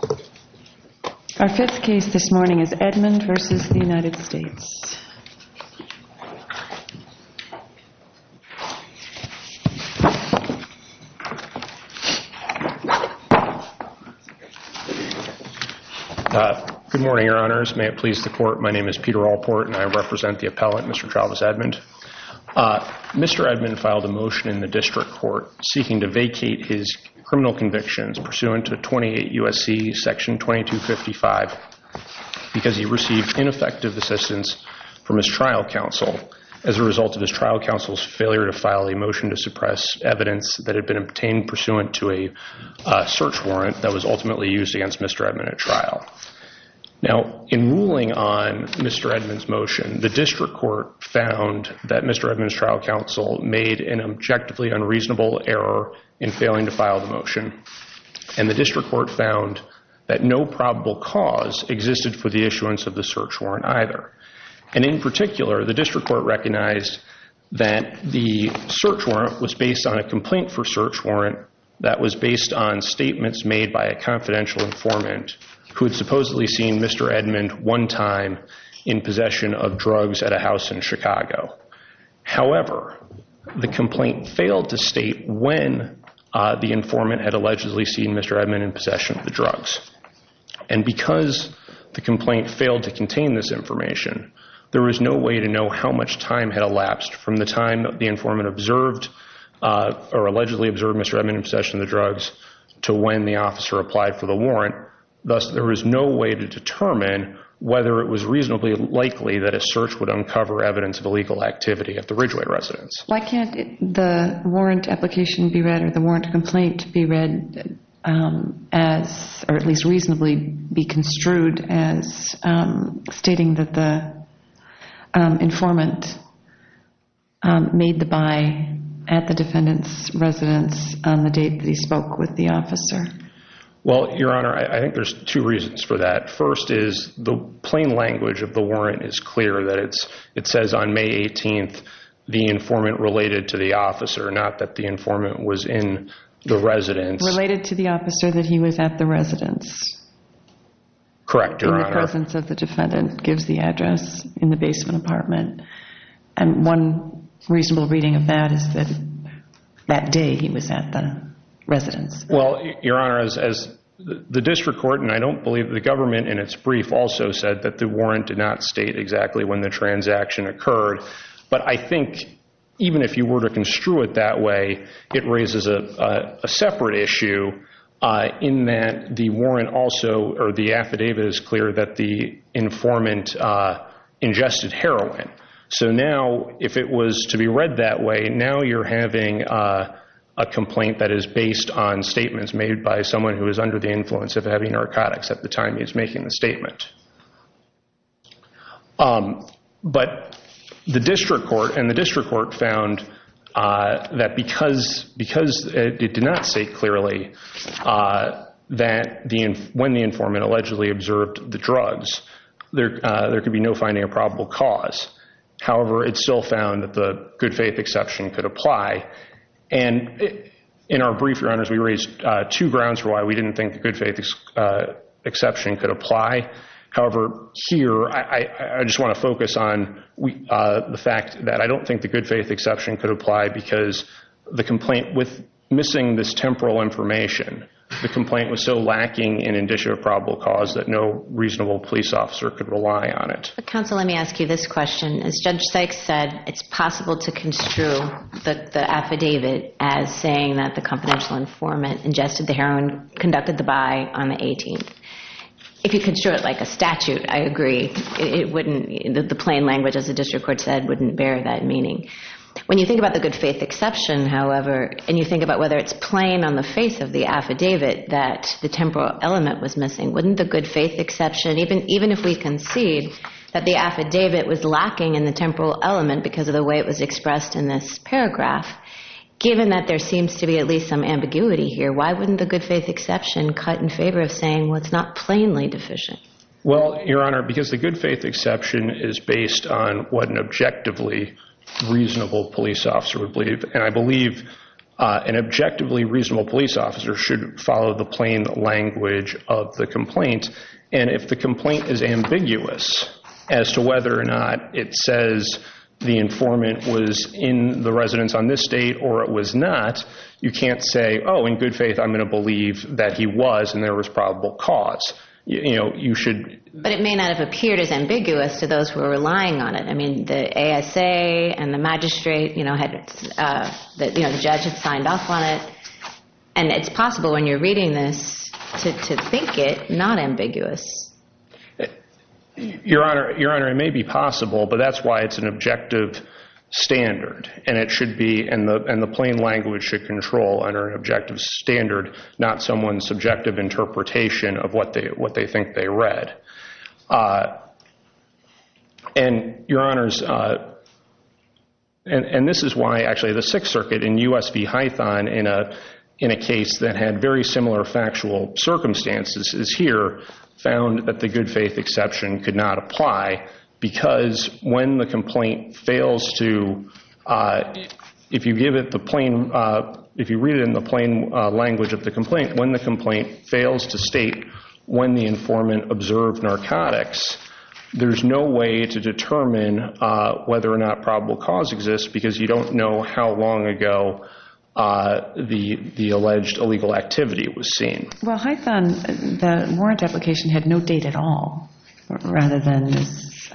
Mr. Edmond filed a motion in the District Court seeking to vacate his criminal convictions pursuant to 28 U.S.C. Section 2255 because he received ineffective assistance from his trial counsel as a result of his trial counsel's failure to file a motion to suppress evidence that had been obtained pursuant to a search warrant that was ultimately used against Mr. Edmond at trial. Now in ruling on Mr. Edmond's motion, the District Court found that Mr. Edmond's trial counsel made an objectively unreasonable error in failing to file the motion, and the District Court found that no probable cause existed for the issuance of the search warrant either. And in particular, the District Court recognized that the search warrant was based on a complaint for search warrant that was based on statements made by a confidential informant who had supposedly seen Mr. Edmond one time in possession of drugs at a house in Chicago. However, the complaint failed to state when the informant had allegedly seen Mr. Edmond in possession of the drugs. And because the complaint failed to contain this information, there is no way to know how much time had elapsed from the time the informant observed, or allegedly observed Mr. Edmond in possession of the drugs to when the officer applied for the warrant, thus there is no way to determine whether it was reasonably likely that a search would uncover evidence of illegal activity at the Ridgeway residence. Why can't the warrant application be read, or the warrant complaint be read as, or at least reasonably be construed as stating that the informant made the buy at the defendant's residence on the date that he spoke with the officer? Well, Your Honor, I think there's two reasons for that. First is, the plain language of the warrant is clear, that it says on May 18th, the informant related to the officer, not that the informant was in the residence. Related to the officer that he was at the residence. Correct, Your Honor. In the presence of the defendant gives the address in the basement apartment, and one reasonable reading of that is that that day he was at the residence. Well, Your Honor, as the district court, and I don't believe the government in its brief also said that the warrant did not state exactly when the transaction occurred. But I think even if you were to construe it that way, it raises a separate issue in that the warrant also, or the affidavit is clear that the informant ingested heroin. So now, if it was to be read that way, now you're having a complaint that is based on statements made by someone who is under the influence of heavy narcotics at the time he is making the statement. But the district court, and the district court found that because it did not state clearly that when the informant allegedly observed the drugs, there could be no finding of probable cause. However, it still found that the good faith exception could apply. And in our brief, Your Honors, we raised two grounds for why we didn't think the good faith exception could apply. However, here, I just want to focus on the fact that I don't think the good faith exception could apply because the complaint, with missing this temporal information, the complaint was so lacking in indicia of probable cause that no reasonable police officer could rely on it. Counsel, let me ask you this question. As Judge Sykes said, it's possible to construe the affidavit as saying that the confidential informant ingested the heroin, conducted the buy on the 18th. If you construe it like a statute, I agree, it wouldn't, the plain language, as the district court said, wouldn't bear that meaning. When you think about the good faith exception, however, and you think about whether it's plain on the face of the affidavit that the temporal element was missing, wouldn't the good faith exception, even if we concede that the affidavit was lacking in the temporal element because of the way it was expressed in this paragraph, given that there seems to be at least some ambiguity here, why wouldn't the good faith exception cut in favor of saying what's not plainly deficient? Well, Your Honor, because the good faith exception is based on what an objectively reasonable police officer would believe. And I believe an objectively reasonable police officer should follow the plain language of the complaint. And if the complaint is ambiguous as to whether or not it says the informant was in the residence on this date or it was not, you can't say, oh, in good faith, I'm going to believe that he was and there was probable cause. You know, you should. But it may not have appeared as ambiguous to those who are relying on it. I mean, the ASA and the magistrate, you know, had, you know, the judge had signed off on it. And it's possible when you're reading this to think it not ambiguous. Your Honor, Your Honor, it may be possible, but that's why it's an objective standard. And it should be and the plain language should control under an objective standard, not someone's subjective interpretation of what they what they think they read. And, Your Honors, and this is why, actually, the Sixth Circuit in U.S. v. Hython in a case that had very similar factual circumstances is here found that the good faith exception could not apply because when the complaint fails to, if you give it the plain, if you read it in the plain language of the complaint, when the complaint fails to state when the word narcotics, there's no way to determine whether or not probable cause exists because you don't know how long ago the alleged illegal activity was seen. Well, Hython, the warrant application had no date at all rather than this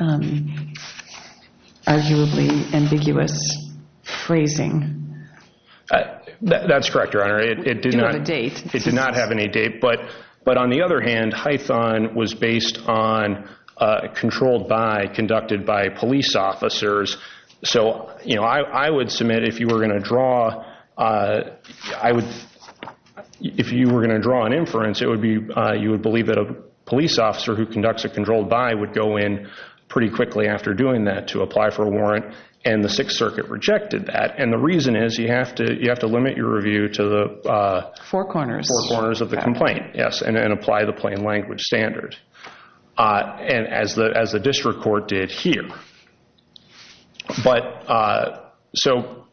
arguably ambiguous phrasing. That's correct, Your Honor. It did not have a date. It did not have any date. But on the other hand, Hython was based on a controlled by conducted by police officers. So, you know, I would submit if you were going to draw, I would, if you were going to draw an inference, it would be, you would believe that a police officer who conducts a controlled by would go in pretty quickly after doing that to apply for a warrant. And the Sixth Circuit rejected that. And the reason is you have to, you have to limit your review to the four corners of the complaint. Yes. And then apply the plain language standard. And as the, as the district court did here, but so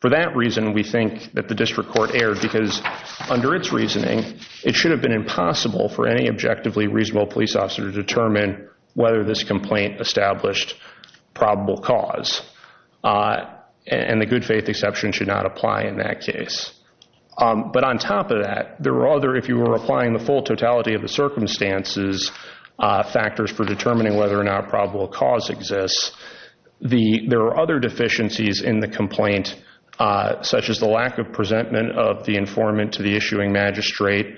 for that reason, we think that the district court erred because under its reasoning, it should have been impossible for any objectively reasonable police officer to determine whether this complaint established probable cause. And the good faith exception should not apply in that case. But on top of that, there were other, if you were applying the full totality of the circumstances, factors for determining whether or not probable cause exists, the, there are other deficiencies in the complaint, such as the lack of presentment of the informant to the issuing magistrate,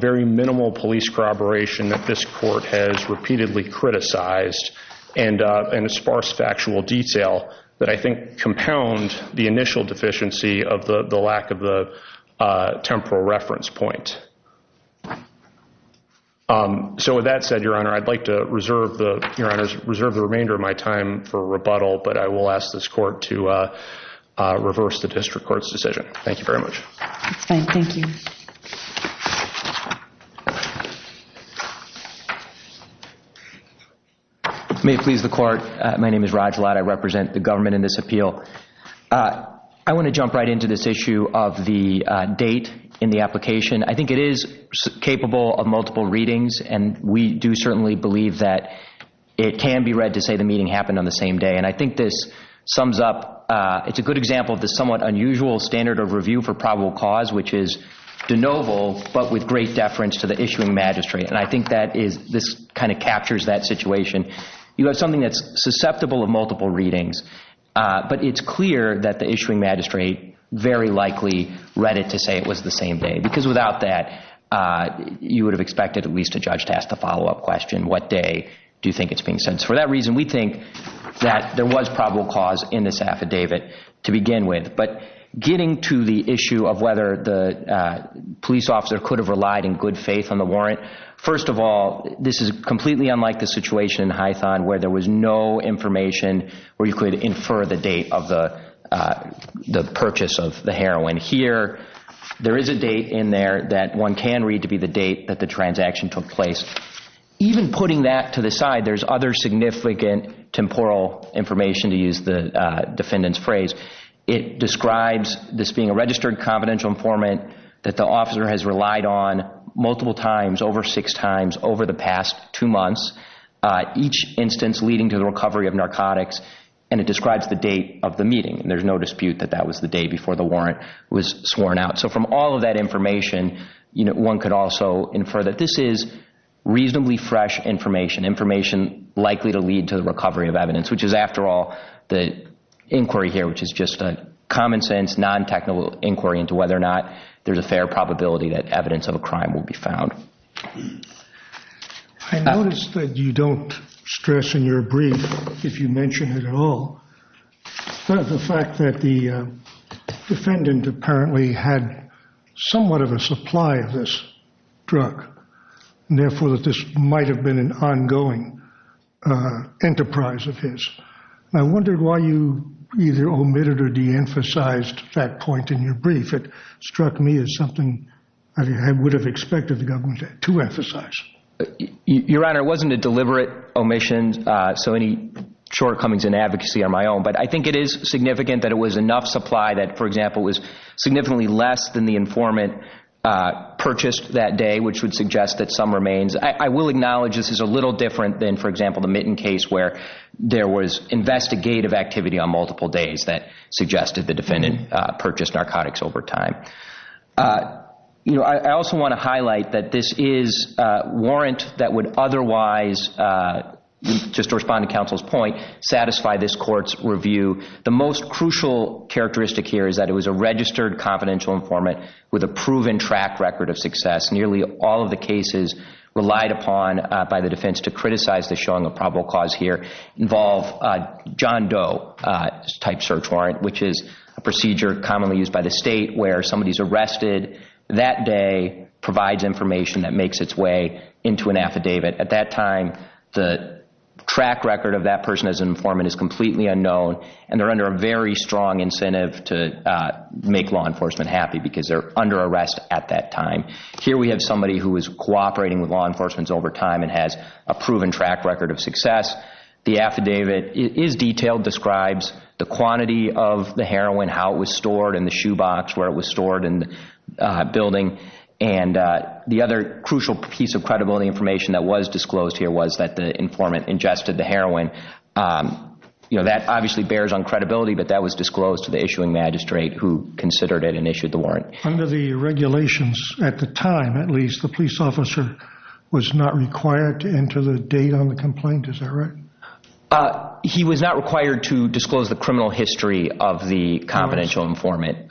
very minimal police corroboration that this court has repeatedly criticized and a sparse factual detail that I think compound the initial deficiency of the lack of the temporal reference point. So with that said, Your Honor, I'd like to reserve the, Your Honor, reserve the remainder of my time for rebuttal, but I will ask this court to reverse the district court's decision. Thank you very much. That's fine. Thank you. May it please the court. My name is Raj Ladd. I represent the government in this appeal. I want to jump right into this issue of the date in the application. I think it is capable of multiple readings, and we do certainly believe that it can be read to say the meeting happened on the same day. And I think this sums up, it's a good example of the somewhat unusual standard of review for probable cause, which is de novo, but with great deference to the issuing magistrate. And I think that is, this kind of captures that situation. You have something that's susceptible of multiple readings, but it's clear that the issuing magistrate very likely read it to say it was the same day, because without that, you would have expected at least a judge to ask the follow-up question, what day do you think it's being sentenced? For that reason, we think that there was probable cause in this affidavit to begin with. But getting to the issue of whether the police officer could have relied in good faith on where there was no information where you could infer the date of the purchase of the heroin. Here, there is a date in there that one can read to be the date that the transaction took place. Even putting that to the side, there's other significant temporal information to use the defendant's phrase. It describes this being a registered confidential informant that the officer has relied on multiple times, over six times, over the past two months. Each instance leading to the recovery of narcotics, and it describes the date of the meeting. There's no dispute that that was the day before the warrant was sworn out. From all of that information, one could also infer that this is reasonably fresh information. Information likely to lead to the recovery of evidence, which is, after all, the inquiry here, which is just a common sense, non-technical inquiry into whether or not there's a fair probability that evidence of a crime will be found. I noticed that you don't stress in your brief, if you mention it at all, the fact that the defendant apparently had somewhat of a supply of this drug, and therefore that this might have been an ongoing enterprise of his. I wondered why you either omitted or de-emphasized that point in your brief. It struck me as something I would have expected the government to emphasize. Your Honor, it wasn't a deliberate omission, so any shortcomings in advocacy are my own, but I think it is significant that it was enough supply that, for example, was significantly less than the informant purchased that day, which would suggest that some remains. I will acknowledge this is a little different than, for example, the Mitten case where there was investigative activity on multiple days that suggested the defendant purchased narcotics over time. You know, I also want to highlight that this is a warrant that would otherwise, just to respond to counsel's point, satisfy this court's review. The most crucial characteristic here is that it was a registered confidential informant with a proven track record of success. Nearly all of the cases relied upon by the defense to criticize the showing of probable cause here involve John Doe-type search warrant, which is a procedure commonly used by the state where somebody is arrested that day, provides information that makes its way into an affidavit. At that time, the track record of that person as an informant is completely unknown, and they're under a very strong incentive to make law enforcement happy because they're under arrest at that time. Here we have somebody who is cooperating with law enforcement over time and has a proven track record of success. The affidavit is detailed, describes the quantity of the heroin, how it was stored in the shoe box, where it was stored in the building, and the other crucial piece of credibility information that was disclosed here was that the informant ingested the heroin. You know, that obviously bears on credibility, but that was disclosed to the issuing magistrate who considered it and issued the warrant. Under the regulations at the time, at least, the police officer was not required to enter the date on the complaint, is that right? He was not required to disclose the criminal history of the confidential informant.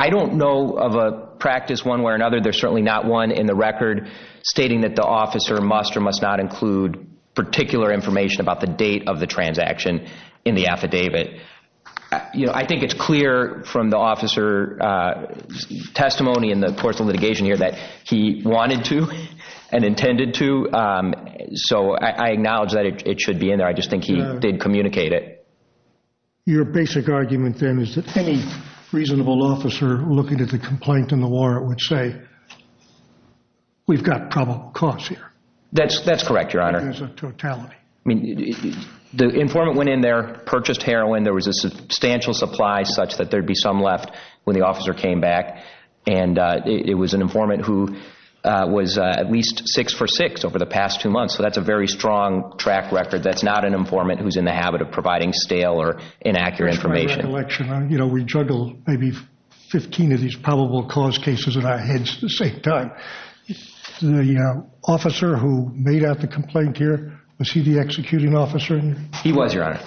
I don't know of a practice one way or another. There's certainly not one in the record stating that the officer must or must not include particular information about the date of the transaction in the affidavit. I think it's clear from the officer's testimony in the course of litigation here that he wanted to and intended to, so I acknowledge that it should be in there, I just think he did communicate it. Your basic argument then is that any reasonable officer looking at the complaint and the warrant would say, we've got probable cause here. That's correct, Your Honor. There's a totality. I mean, the informant went in there, purchased heroin, there was a substantial supply such that there'd be some left when the officer came back, and it was an informant who was at least six for six over the past two months, so that's a very strong track record. That's not an informant who's in the habit of providing stale or inaccurate information. Just my recollection, you know, we juggled maybe 15 of these probable cause cases in our heads at the same time. The officer who made out the complaint here, was he the executing officer? He was, Your Honor.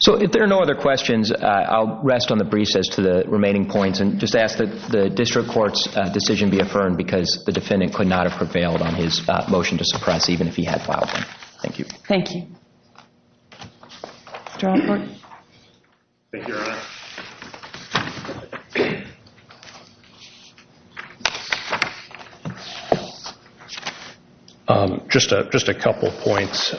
So if there are no other questions, I'll rest on the briefs as to the remaining points and just ask that the district court's decision be affirmed because the defendant could not have prevailed on his motion to suppress even if he had filed one. Thank you. Mr. Alford? Thank you, Your Honor. Just a couple points.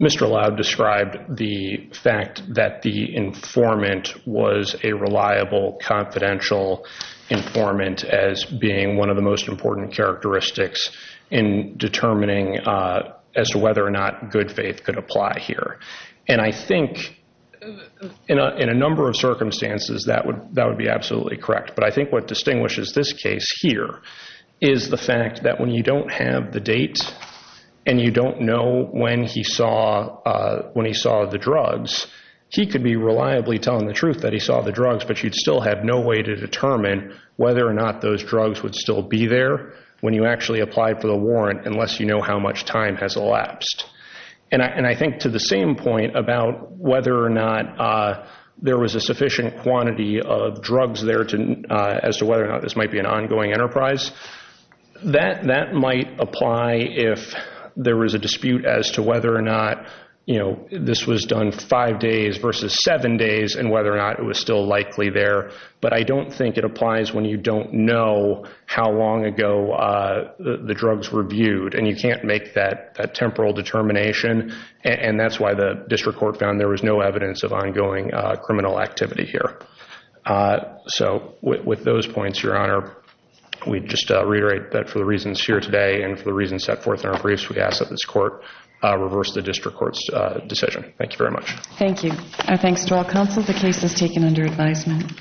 Mr. Loud described the fact that the informant was a reliable, confidential informant as being one of the most important characteristics in determining as to whether or not good faith could apply here. And I think in a number of circumstances, that would be absolutely correct. But I think what distinguishes this case here is the fact that when you don't have the date and you don't know when he saw the drugs, he could be reliably telling the truth that he saw the drugs, but you'd still have no way to determine whether or not those drugs would still be there when you actually applied for the warrant unless you know how much time has elapsed. And I think to the same point about whether or not there was a sufficient quantity of drugs there as to whether or not this might be an ongoing enterprise, that might apply if there was a dispute as to whether or not this was done five days versus seven days and whether or not it was still likely there. But I don't think it applies when you don't know how long ago the drugs were viewed and you can't make that temporal determination, and that's why the district court found there was no evidence of ongoing criminal activity here. So with those points, Your Honor, we just reiterate that for the reasons here today and for the reasons set forth in our briefs, we ask that this court reverse the district court's decision. Thank you very much. Thank you. Our thanks to all counsel. The case is taken under advisement.